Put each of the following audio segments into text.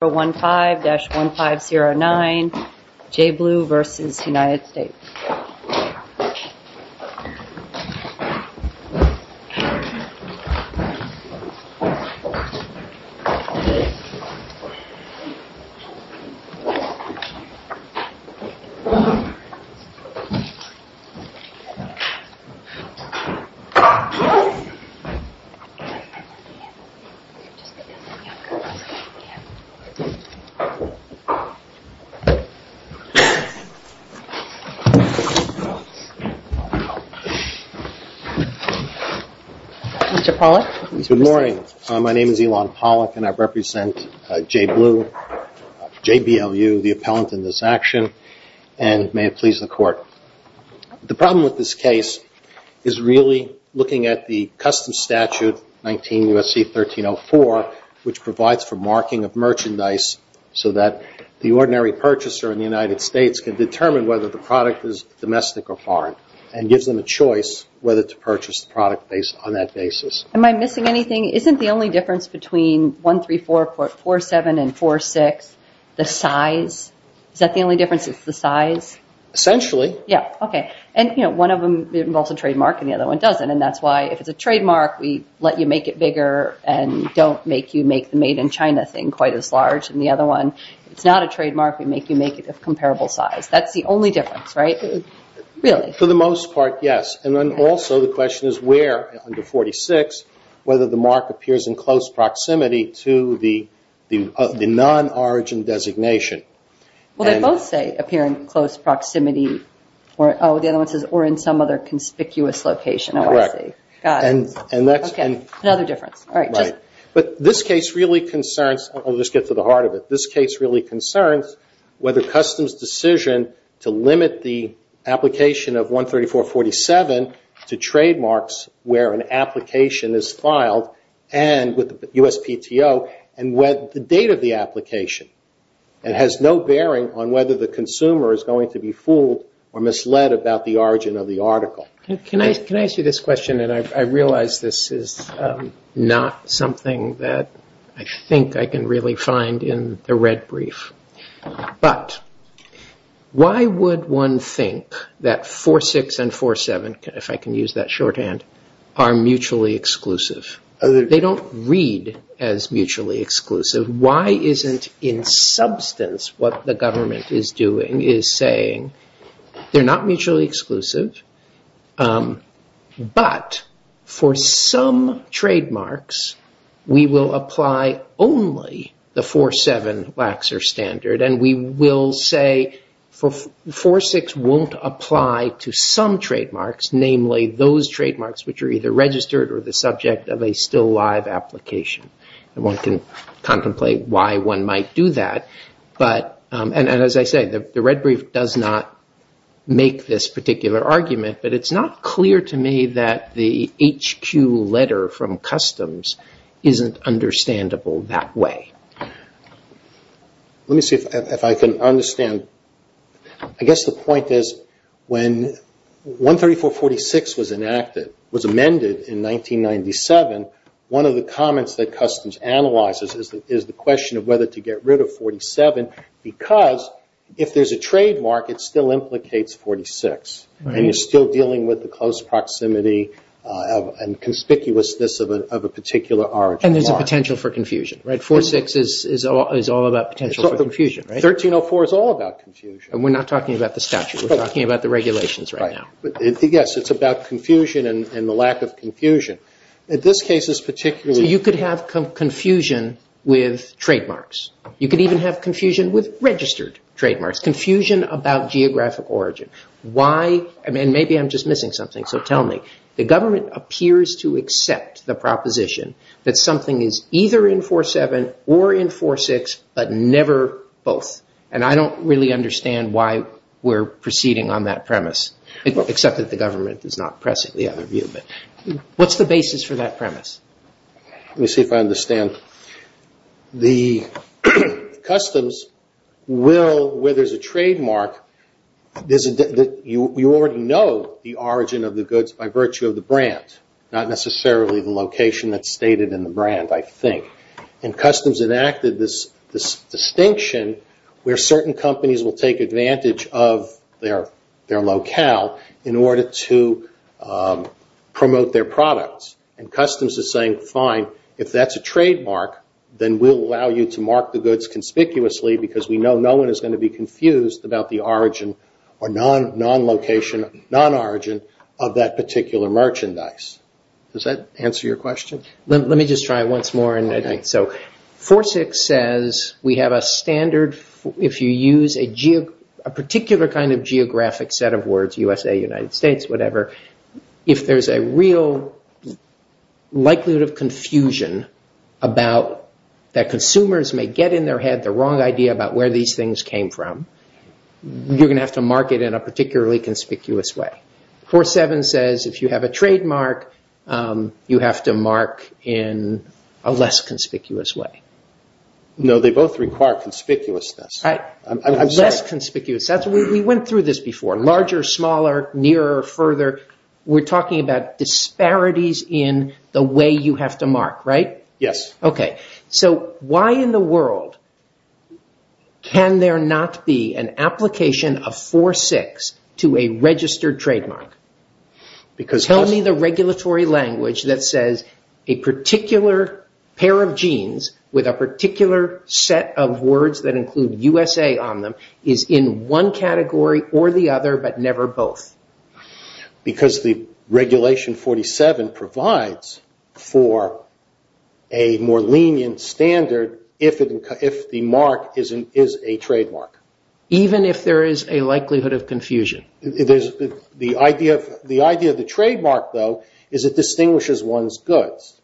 JBLU, Inc. v. United States Mr. Pollack. Good morning. My name is Elon Pollack and I represent JBLU, J-B-L-U, the appellant in this action, and may it please the Court. The problem with this case is really looking at the Customs Statute 19 U.S.C. 1304, which provides for marking of merchandise so that the ordinary purchaser in the United States can determine whether the product is domestic or foreign, and gives them a choice whether to purchase the product on that basis. Am I missing anything? Isn't the only difference between 13447 and 46 the size? Is that the only difference is the size? Essentially. Yeah, okay. And one of them involves a trademark and the other one doesn't, and that's why if it's a trademark we let you make it bigger and don't make you make the made-in-China thing quite as large than the other one. If it's not a trademark, we make you make it a comparable size. That's the only difference, right? Really. For the most part, yes. And then also the question is where under 46, whether the mark appears in close proximity to the non-origin designation. Well, they both say appear in close proximity. Oh, the other one says or in some other conspicuous location. Oh, I see. Got it. Okay, another difference. But this case really concerns, I'll just get to the heart of it, this case really concerns whether Customs' decision to limit the application of 13447 to trademarks where an application is filed and with the USPTO and the date of the application. It has no bearing on whether the consumer is going to be fooled or misled about the origin of the article. Can I ask you this question, and I realize this is not something that I think I can really find in the red brief, but why would one think that 46 and 47, if I can use that shorthand, are mutually exclusive? They don't read as mutually exclusive. Why isn't in substance what the government is doing is saying they're not mutually exclusive, but for some trademarks, we will apply only the 47 waxer standard, and we will say 46 won't apply to some trademarks, namely those trademarks which are either registered or the subject of a still live application. One can contemplate why one might do that, and as I say, the red brief does not make this particular argument, but it's not clear to me that the HQ letter from Customs isn't understandable that way. Let me see if I can understand. I guess the 46 was amended in 1997. One of the comments that Customs analyzes is the question of whether to get rid of 47, because if there's a trademark, it still implicates 46, and you're still dealing with the close proximity and conspicuousness of a particular origin mark. And there's a potential for confusion, right? 46 is all about potential for confusion, right? 1304 is all about confusion. We're not talking about the statute. We're talking about the regulations right now. Yes, it's about confusion and the lack of confusion. In this case, it's particularly... You could have confusion with trademarks. You could even have confusion with registered trademarks, confusion about geographic origin. Why? Maybe I'm just missing something, so tell me. The government appears to accept the proposition that something is either in 47 or in 46, but never both, and I don't really understand why we're proceeding on that premise. Except that the government is not pressing the other view, but what's the basis for that premise? Let me see if I understand. The Customs will, where there's a trademark, you already know the origin of the goods by virtue of the brand, not necessarily the location that's stated in the brand, I think. And Customs enacted this distinction where certain companies will take advantage of their locale in order to promote their products. Customs is saying, fine, if that's a trademark, then we'll allow you to mark the goods conspicuously because we know no one is going to be confused about the origin or non-location, non-origin of that particular merchandise. Does that answer your question? Let me just try it once more. 46 says we have a standard, if you use a particular kind of geographic set of words, USA, United States, whatever, if there's a real likelihood of confusion about that consumers may get in their head the wrong idea about where these things came from, you're going to have to mark it in a particularly conspicuous way. 47 says if you have a trademark, you have to mark in a less conspicuous way. No, they both require conspicuousness. Less conspicuous. We went through this before. Larger, smaller, nearer, further, we're talking about disparities in the way you have to mark, right? Yes. So why in the world can there not be an application of 46 to a registered trademark? Tell me the regulatory language that says a particular pair of jeans with a particular set of words that include USA on them is in one category or the other but never both. Because the regulation 47 provides for a more lenient standard if the mark is a trademark. Even if there is a likelihood of confusion. The idea of the trademark, though, is it distinguishes one's goods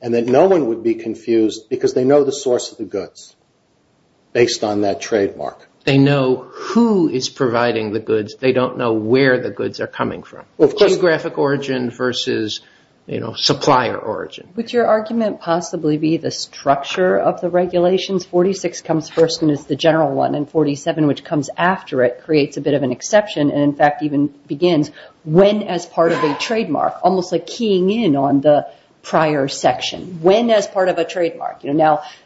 and that no one would be confused because they know the source of the goods based on that trademark. They know who is providing the goods. They don't know where the goods are coming from. Of course. Geographic origin versus supplier origin. Would your argument possibly be the structure of the regulations? 46 comes first and is the general one and 47, which comes after it, creates a bit of an exception and in fact even begins when as part of a trademark, almost like keying in on the prior section. When as part of a trademark.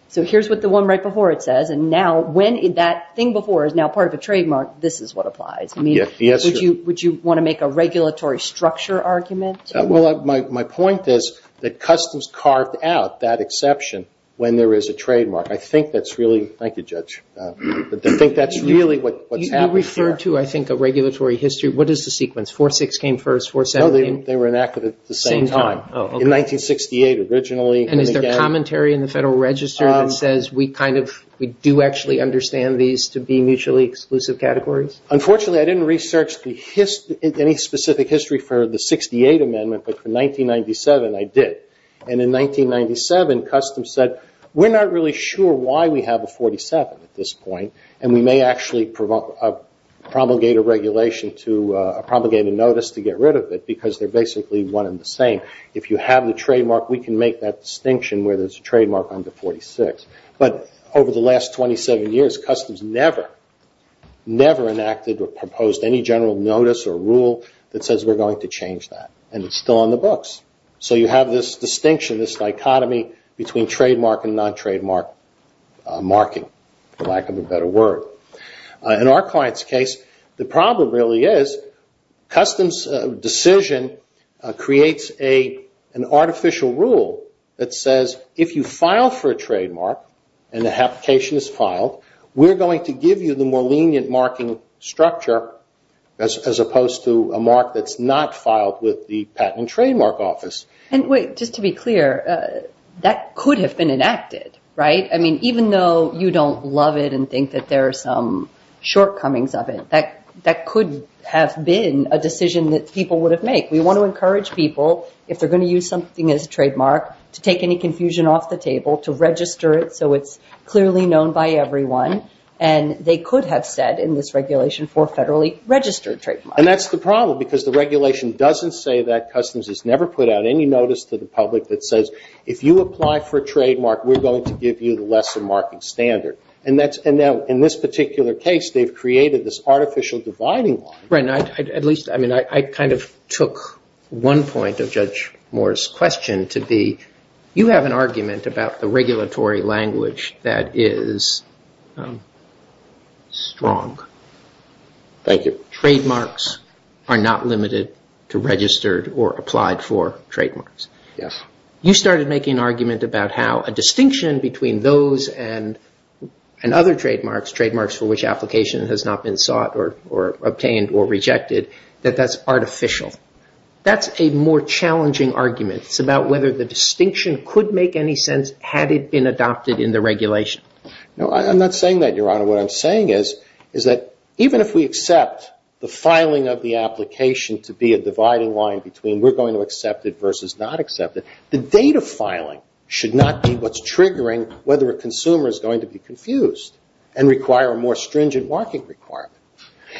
So here's what the one right before it says and now when that thing before is now part of a trademark, this is what applies. Would you want to make a regulatory structure argument? My point is that customs carved out that exception when there is a trademark. I think that's really what's happening here. You refer to, I think, a regulatory history. What is the sequence? 46 came first, 417? No, they were enacted at the same time. In 1968 originally. And is there commentary in the Federal Register that says we do actually understand these to be mutually exclusive categories? Unfortunately, I didn't research any specific history for the 68 Amendment, but for 1997 I did. And in 1997, customs said, we're not really sure why we have a 47 at this point and we may actually promulgate a regulation to, promulgate a notice to get rid of it because they're basically one and the same. If you have the trademark, we can make that distinction where there's a trademark under 46. But over the last 27 years, customs never, never enacted or proposed any general notice or rule that says we're going to change that and it's still on the books. So you have this distinction, this dichotomy between trademark and non-trademark marking, for lack of a better word. In our client's case, the problem really is customs' decision creates an artificial rule that says if you file for a trademark and the application is filed, we're going to give you the more lenient marking structure as opposed to a mark that's not filed with the Patent and Trademark Office. And wait, just to be clear, that could have been enacted, right? I mean, even though you don't love it and think that there are some shortcomings of it, that could have been a decision that people would have made. We want to encourage people, if they're going to use something as a trademark, to take any confusion off the table, to register it so it's clearly known by everyone and they could have said in this regulation for federally registered trademark. And that's the problem because the regulation doesn't say that Customs has never put out any notice to the public that says if you apply for a trademark, we're going to give you the lesser marking standard. And now, in this particular case, they've created this artificial dividing line. Right, and at least, I mean, I kind of took one point of Judge Moore's question to be, you have an argument about the regulatory language that is strong. Thank you. Trademarks are not limited to registered or applied for trademarks. You started making an argument about how a distinction between those and other trademarks, trademarks for which application has not been sought or obtained or rejected, that that's artificial. That's a more challenging argument. It's about whether the distinction could make any sense had it been adopted in the regulation. No, I'm not saying that, Your Honor. What I'm saying is, is that even if we accept the filing of the application to be a dividing line between we're going to accept it versus not accept it, the date of filing should not be what's triggering whether a consumer is going to be confused and require a more stringent marking requirement.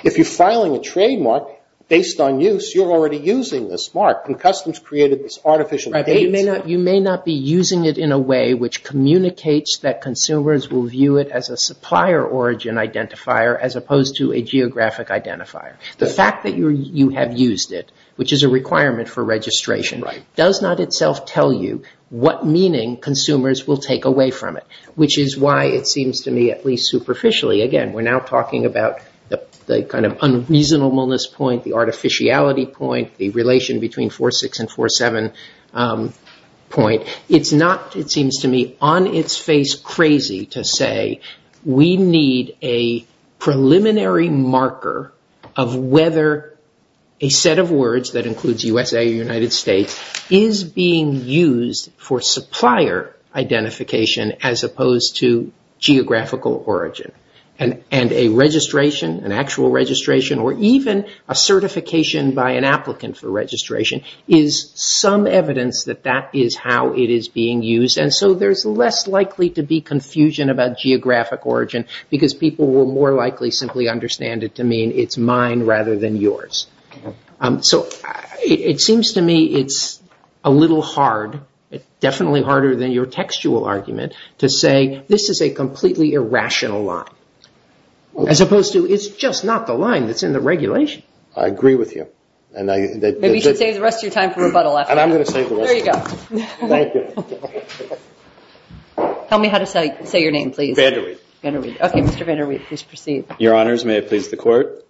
If you're filing a trademark based on use, you're already using this mark, and Customs created this artificial dividing line. You may not be using it in a way which communicates that consumers will view it as a supplier origin identifier as opposed to a geographic identifier. The fact that you have used it, which is a requirement for registration, does not itself tell you what meaning consumers will take away from it, which is why it seems to me, at least superficially, again, we're now talking about the kind of unreasonableness point, the artificiality point, the relation between 4.6 and 4.7 point. It seems to me on its face crazy to say we need a preliminary marker of whether a set of words that includes USA or United States is being used for supplier identification as opposed to geographical origin, and a registration, an actual registration, or even a certification by an applicant for registration is some evidence that that is how it is being used, and so there's less likely to be confusion about geographic origin because people will more likely simply understand it to mean it's mine rather than yours. It seems to me it's a little hard, definitely harder than your textual argument to say this is a completely irrational line as opposed to it's just not the line that's in the regulation. I agree with you. Maybe you should save the rest of your time for rebuttal after this. And I'm going to save the rest of my time. There you go. Thank you. Tell me how to say your name, please. Vanderweide. Okay, Mr. Vanderweide, please proceed. Your Honors, may it please the Court.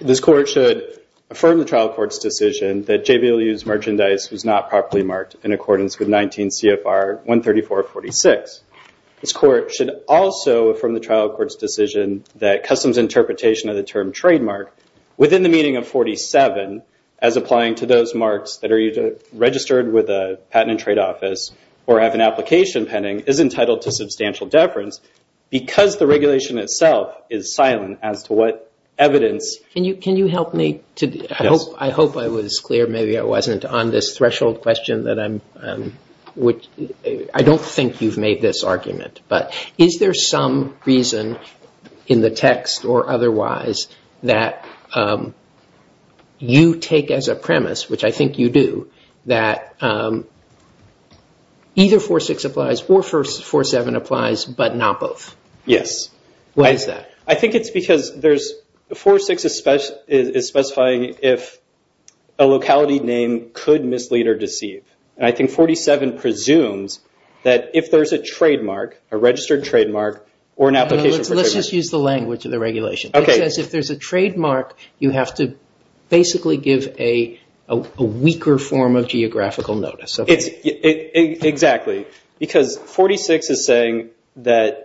This Court should affirm the trial court's decision that JBLU's merchandise was not properly marked in accordance with 19 CFR 134.46. This Court should also affirm the trial court's decision that customs interpretation of the trademark within the meaning of 47 as applying to those marks that are either registered with the Patent and Trade Office or have an application pending is entitled to substantial deference because the regulation itself is silent as to what evidence. Can you help me? Yes. I hope I was clear. Maybe I wasn't. On this threshold question, I don't think you've made this argument, but is there some reason in the text or otherwise that you take as a premise, which I think you do, that either 46 applies or 47 applies, but not both? Yes. Why is that? I think it's because 46 is specifying if a locality name could mislead or deceive. I think 47 presumes that if there's a trademark, a registered trademark, or an application for trade... Let's just use the language of the regulation. Okay. It says if there's a trademark, you have to basically give a weaker form of geographical notice. Exactly. Because 46 is saying that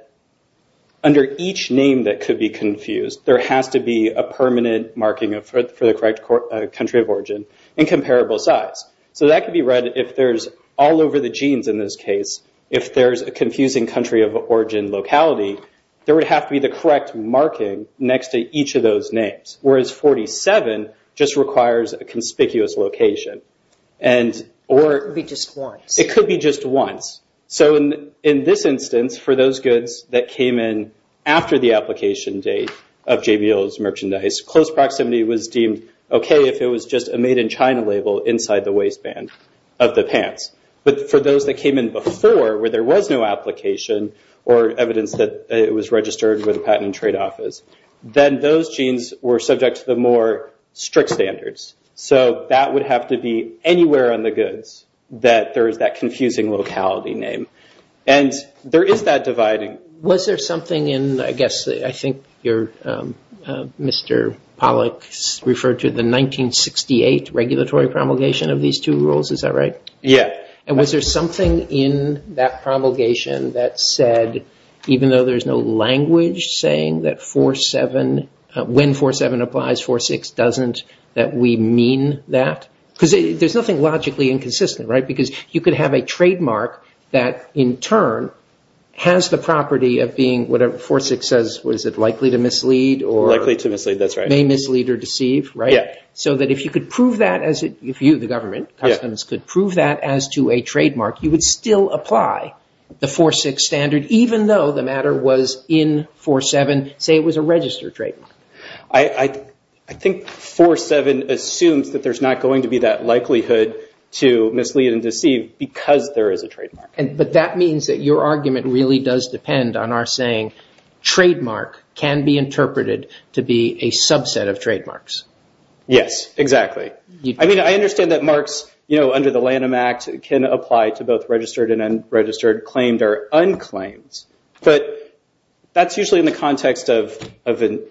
under each name that could be confused, there has to be a permanent marking for the correct country of origin and comparable size. That could be read if there's all over the genes in this case, if there's a confusing country of origin locality, there would have to be the correct marking next to each of those names. Whereas 47 just requires a conspicuous location. It could be just once. It could be just once. In this instance, for those goods that came in after the application date of JBL's merchandise, close proximity was deemed okay if it was just a made in China label inside the waistband of the pants. But for those that came in before where there was no application or evidence that it was registered where the patent and tradeoff is, then those genes were subject to the more strict standards. That would have to be anywhere on the goods that there is that confusing locality name. There is that dividing. Was there something in, I guess, I think Mr. Pollack referred to the 1968 regulatory promulgation of these two rules. Is that right? Yeah. Was there something in that promulgation that said, even though there's no language saying that when 47 applies, 46 doesn't, that we mean that? There's nothing logically inconsistent, right? Because you could have a trademark that in turn has the property of being what 46 says, is it likely to mislead or may mislead or deceive, right? So that if you could prove that, if you, the government, could prove that as to a trademark, you would still apply the 46 standard even though the matter was in 47, say it was a registered trademark. I think 47 assumes that there's not going to be that likelihood to mislead and deceive because there is a trademark. But that means that your argument really does depend on our saying, trademark can be interpreted to be a subset of trademarks. Yes, exactly. I mean, I understand that marks, you know, under the Lanham Act can apply to both registered and unregistered, claimed or unclaimed. But that's usually in the context of an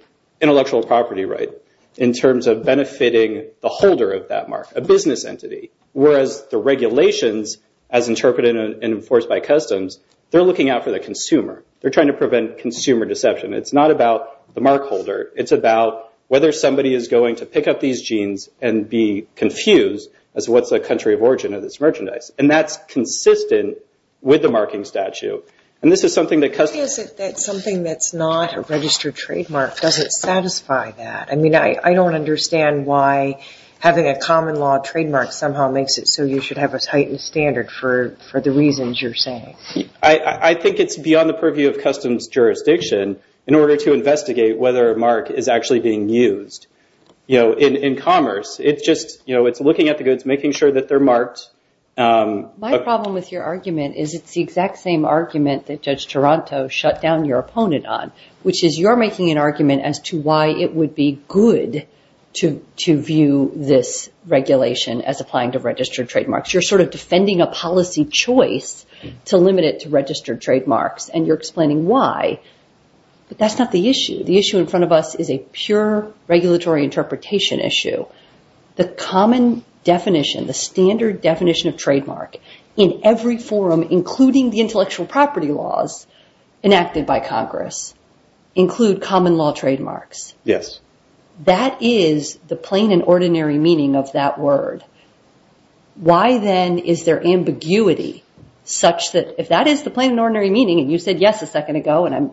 intellectual property right in terms of benefiting the holder of that mark, a business entity, whereas the regulations as interpreted and enforced by customs, they're looking out for the consumer. They're trying to prevent consumer deception. It's not about the mark holder, it's about whether somebody is going to pick up these genes and be confused as to what's the country of origin of this merchandise. And that's consistent with the marking statute. And this is something that customs... Is it that something that's not a registered trademark doesn't satisfy that? I mean, I don't understand why having a common law trademark somehow makes it so you should have a heightened standard for the reasons you're saying. I think it's beyond the purview of customs jurisdiction in order to investigate whether a mark is actually being used. You know, in commerce, it's just, you know, it's looking at the goods, making sure that they're marked. My problem with your argument is it's the exact same argument that Judge Toronto shut down your opponent on, which is you're making an argument as to why it would be good to view this regulation as applying to registered trademarks. You're sort of defending a policy choice to limit it to registered trademarks, and you're explaining why, but that's not the issue. The issue in front of us is a pure regulatory interpretation issue. The common definition, the standard definition of trademark in every forum, including the intellectual property laws enacted by Congress, include common law trademarks. Yes. That is the plain and ordinary meaning of that word. Why then is there ambiguity such that if that is the plain and ordinary meaning, and you said yes a second ago, and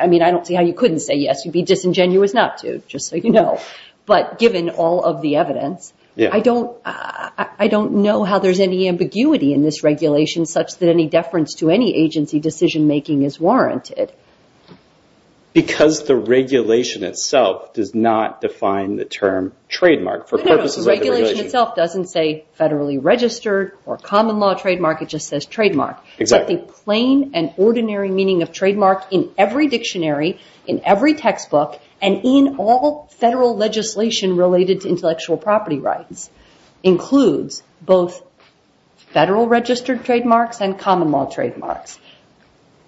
I mean, I don't see how you couldn't say yes. You'd be disingenuous not to, just so you know. But given all of the evidence, I don't know how there's any ambiguity in this regulation such that any deference to any agency decision-making is warranted. Because the regulation itself does not define the term trademark for purposes of the regulation. No, no. The regulation itself doesn't say federally registered or common law trademark. It just says trademark. Exactly. But the plain and ordinary meaning of trademark in every dictionary, in every textbook, and in all federal legislation related to intellectual property rights, includes both federal registered trademarks and common law trademarks.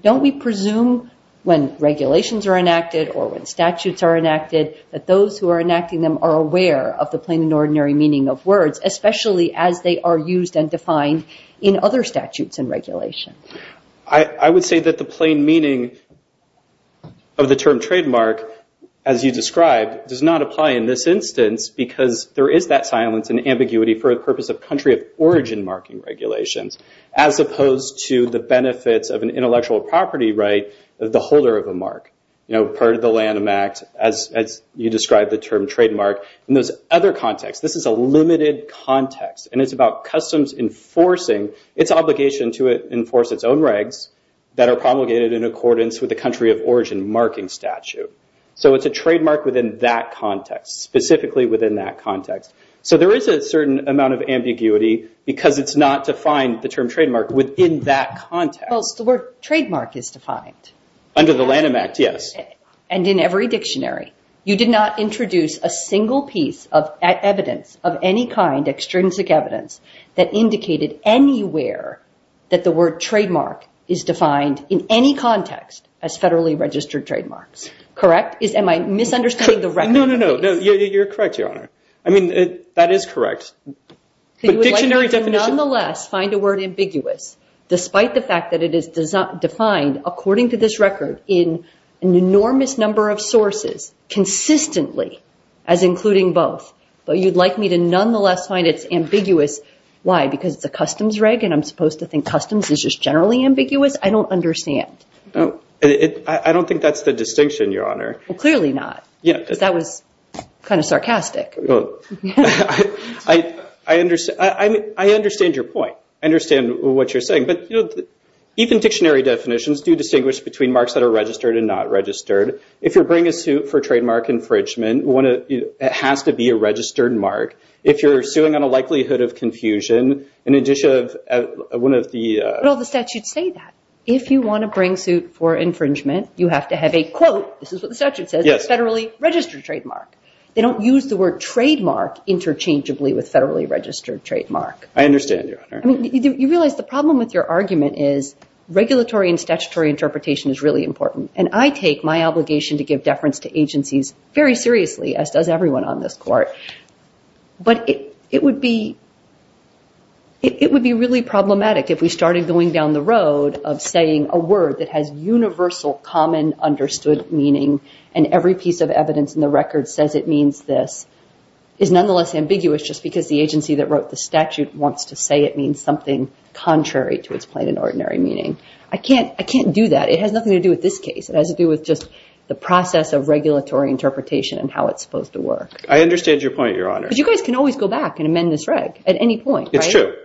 Don't we presume when regulations are enacted or when statutes are enacted that those who are enacting them are aware of the plain and ordinary meaning of words, especially as they are used and defined in other statutes and regulations? I would say that the plain meaning of the term trademark, as you described, does not apply in this instance because there is that silence and ambiguity for the purpose of country of origin marking regulations, as opposed to the benefits of an intellectual property right of the holder of a mark, you know, part of the Lanham Act, as you described the term trademark. In those other contexts, this is a limited context, and it's about customs enforcing its obligation to enforce its own regs that are promulgated in accordance with the country of origin marking statute. So it's a trademark within that context, specifically within that context. So there is a certain amount of ambiguity because it's not defined, the term trademark, within that context. Well, it's the word trademark is defined. Under the Lanham Act, yes. And in every dictionary. You did not introduce a single piece of evidence of any kind, extrinsic evidence, that indicated anywhere that the word trademark is defined in any context as federally registered trademarks. Correct? Am I misunderstanding the record? No, no, no. You're correct, Your Honor. I mean, that is correct. But dictionary definition. You would like me to nonetheless find a word ambiguous, despite the fact that it is defined, according to this record, in an enormous number of sources, consistently, as including both. But you'd like me to nonetheless find it's ambiguous. Why? Because it's a customs reg, and I'm supposed to think customs is just generally ambiguous? I don't understand. I don't think that's the distinction, Your Honor. Well, clearly not. Yeah. Because that was kind of sarcastic. I understand your point. I understand what you're saying. But even dictionary definitions do distinguish between marks that are registered and not registered. If you're bringing a suit for trademark infringement, it has to be a registered mark. If you're suing on a likelihood of confusion, in addition of one of the- But all the statutes say that. If you want to bring suit for infringement, you have to have a quote, this is what the statute says, a federally registered trademark. They don't use the word trademark interchangeably with federally registered trademark. I understand, Your Honor. I mean, you realize the problem with your argument is regulatory and statutory interpretation is really important. And I take my obligation to give deference to agencies very seriously, as does everyone on this court. But it would be really problematic if we started going down the road of saying a word that has universal common understood meaning and every piece of evidence in the record says it means this, is nonetheless ambiguous just because the agency that wrote the statute wants to say it means something contrary to its plain and ordinary meaning. I can't do that. It has nothing to do with this case. It has to do with just the process of regulatory interpretation and how it's supposed to work. I understand your point, Your Honor. But you guys can always go back and amend this reg at any point, right? It's true. It's true.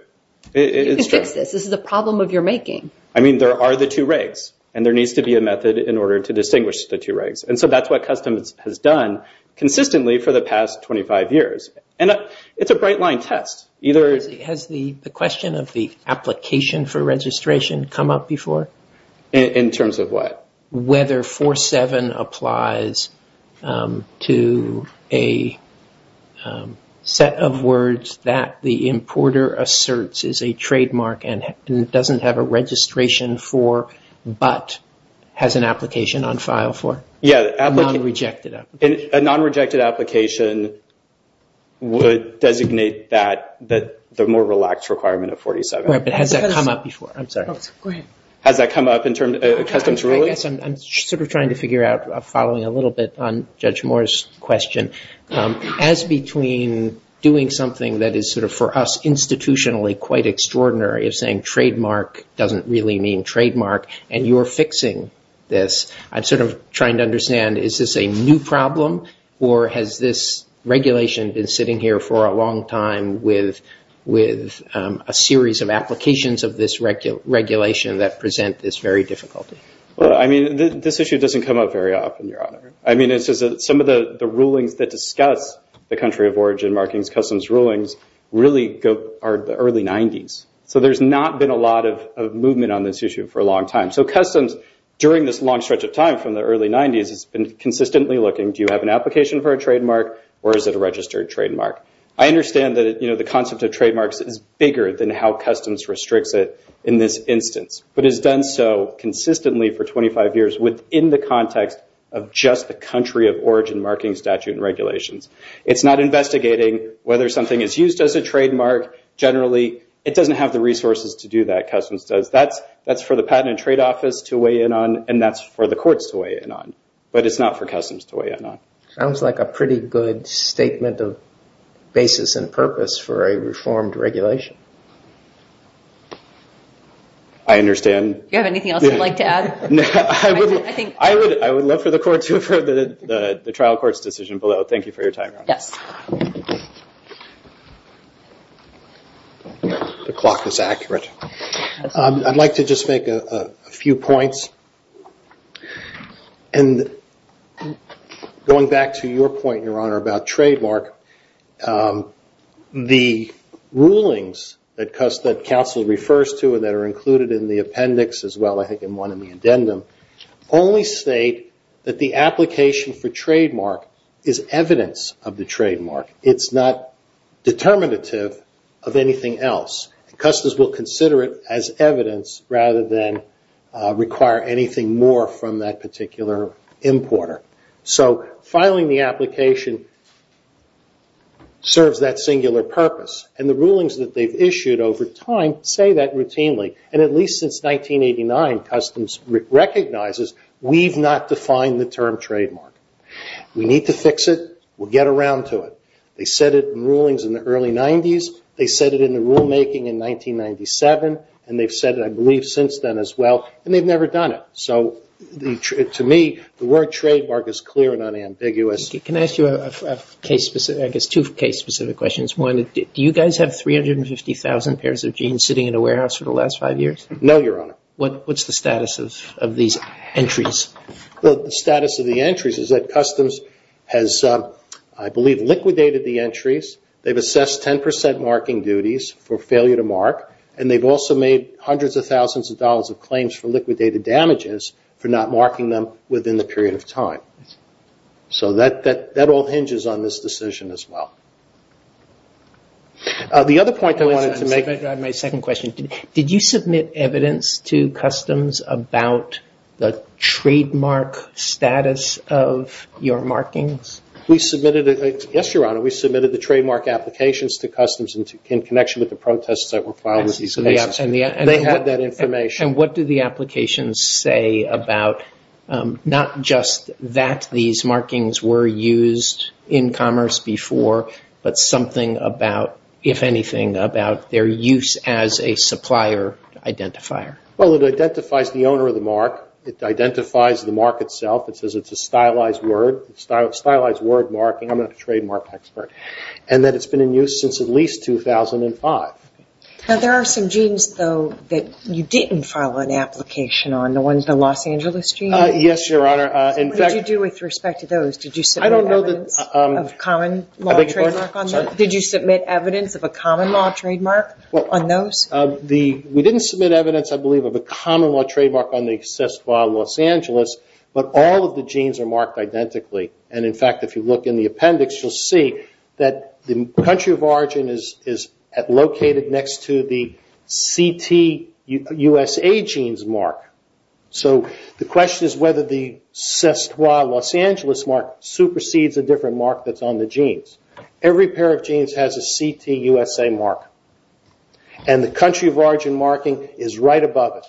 You can fix this. This is a problem of your making. I mean, there are the two regs, and there needs to be a method in order to distinguish the two regs. And so that's what Customs has done consistently for the past 25 years. And it's a bright line test. Has the question of the application for registration come up before? In terms of what? Whether 47 applies to a set of words that the importer asserts is a trademark and doesn't have a registration for, but has an application on file for? Yeah. A non-rejected application. A non-rejected application would designate that the more relaxed requirement of 47. Right. But has that come up before? I'm sorry. Go ahead. Has that come up in terms of Customs ruling? I guess I'm sort of trying to figure out, following a little bit on Judge Moore's question. As between doing something that is sort of for us institutionally quite extraordinary of saying trademark doesn't really mean trademark, and you're fixing this, I'm sort of trying to understand is this a new problem, or has this regulation been sitting here for a long time with a series of applications of this regulation that present this very difficulty? This issue doesn't come up very often, Your Honor. Some of the rulings that discuss the country of origin markings, Customs rulings, really are the early 90s. So there's not been a lot of movement on this issue for a long time. So Customs, during this long stretch of time from the early 90s, has been consistently looking, do you have an application for a trademark, or is it a registered trademark? I understand that the concept of trademarks is bigger than how Customs restricts it in this instance, but it's done so consistently for 25 years within the context of just the country of origin marking statute and regulations. It's not investigating whether something is used as a trademark generally. It doesn't have the resources to do that, Customs says. That's for the Patent and Trade Office to weigh in on, and that's for the courts to weigh in on, but it's not for Customs to weigh in on. Sounds like a pretty good statement of basis and purpose for a reformed regulation. I understand. Do you have anything else you'd like to add? I would love for the trial courts' decision below. Thank you for your time, Your Honor. Yes. The clock is accurate. I'd like to just make a few points. Going back to your point, Your Honor, about trademark, the rulings that counsel refers to and that are included in the appendix as well, I think in one of the addendum, only state that the application for trademark is evidence of the trademark. It's not determinative of anything else. Customs will consider it as evidence rather than require anything more from that particular importer. Filing the application serves that singular purpose, and the rulings that they've issued over time say that routinely. At least since 1989, Customs recognizes we've not defined the term trademark. We need to fix it. We'll get around to it. They said it in rulings in the early 90s. They said it in the rulemaking in 1997, and they've said it, I believe, since then as well. And they've never done it. So to me, the word trademark is clear and unambiguous. Can I ask you two case-specific questions? One, do you guys have 350,000 pairs of jeans sitting in a warehouse for the last five years? No, Your Honor. What's the status of these entries? The status of the entries is that Customs has, I believe, liquidated the entries. They've assessed 10% marking duties for failure to mark, and they've also made hundreds of thousands of dollars of claims for liquidated damages for not marking them within the period of time. So that all hinges on this decision as well. The other point that I wanted to make... Let me drive my second question. Did you submit evidence to Customs about the trademark status of your markings? We submitted it. Yes, Your Honor. We submitted the trademark applications to Customs in connection with the protests that were filed with these cases. They had that information. And what do the applications say about not just that these markings were used in commerce before, but something about, if anything, about their use as a supplier identifier? Well, it identifies the owner of the mark. It identifies the mark itself. It says it's a stylized word, a stylized word marking. I'm not a trademark expert. And that it's been in use since at least 2005. Now, there are some genes, though, that you didn't file an application on. The ones, the Los Angeles genes? Yes, Your Honor. In fact... What did you do with respect to those? Did you submit evidence of common law trademark on those? Did you submit evidence of a common law trademark on those? We didn't submit evidence, I believe, of a common law trademark on the assessed file in Los Angeles, but all of the genes are marked identically. And in fact, if you look in the appendix, you'll see that the country of origin is located next to the CTUSA genes mark. So the question is whether the Cestois Los Angeles mark supersedes a different mark that's on the genes. Every pair of genes has a CTUSA mark. And the country of origin marking is right above it.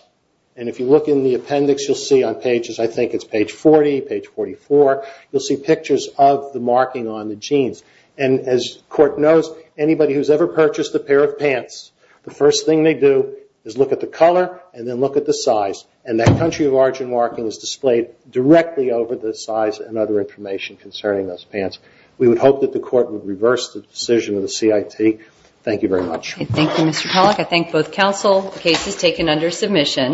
And if you look in the appendix, you'll see on pages, I think it's page 40, page 44, you'll see pictures of the marking on the genes. And as the Court knows, anybody who's ever purchased a pair of pants, the first thing they do is look at the color and then look at the size. And that country of origin marking is displayed directly over the size and other information concerning those pants. We would hope that the Court would reverse the decision of the CIT. Thank you very much. Thank you, Mr. Pollack. I thank both counsel. The case is taken under submission.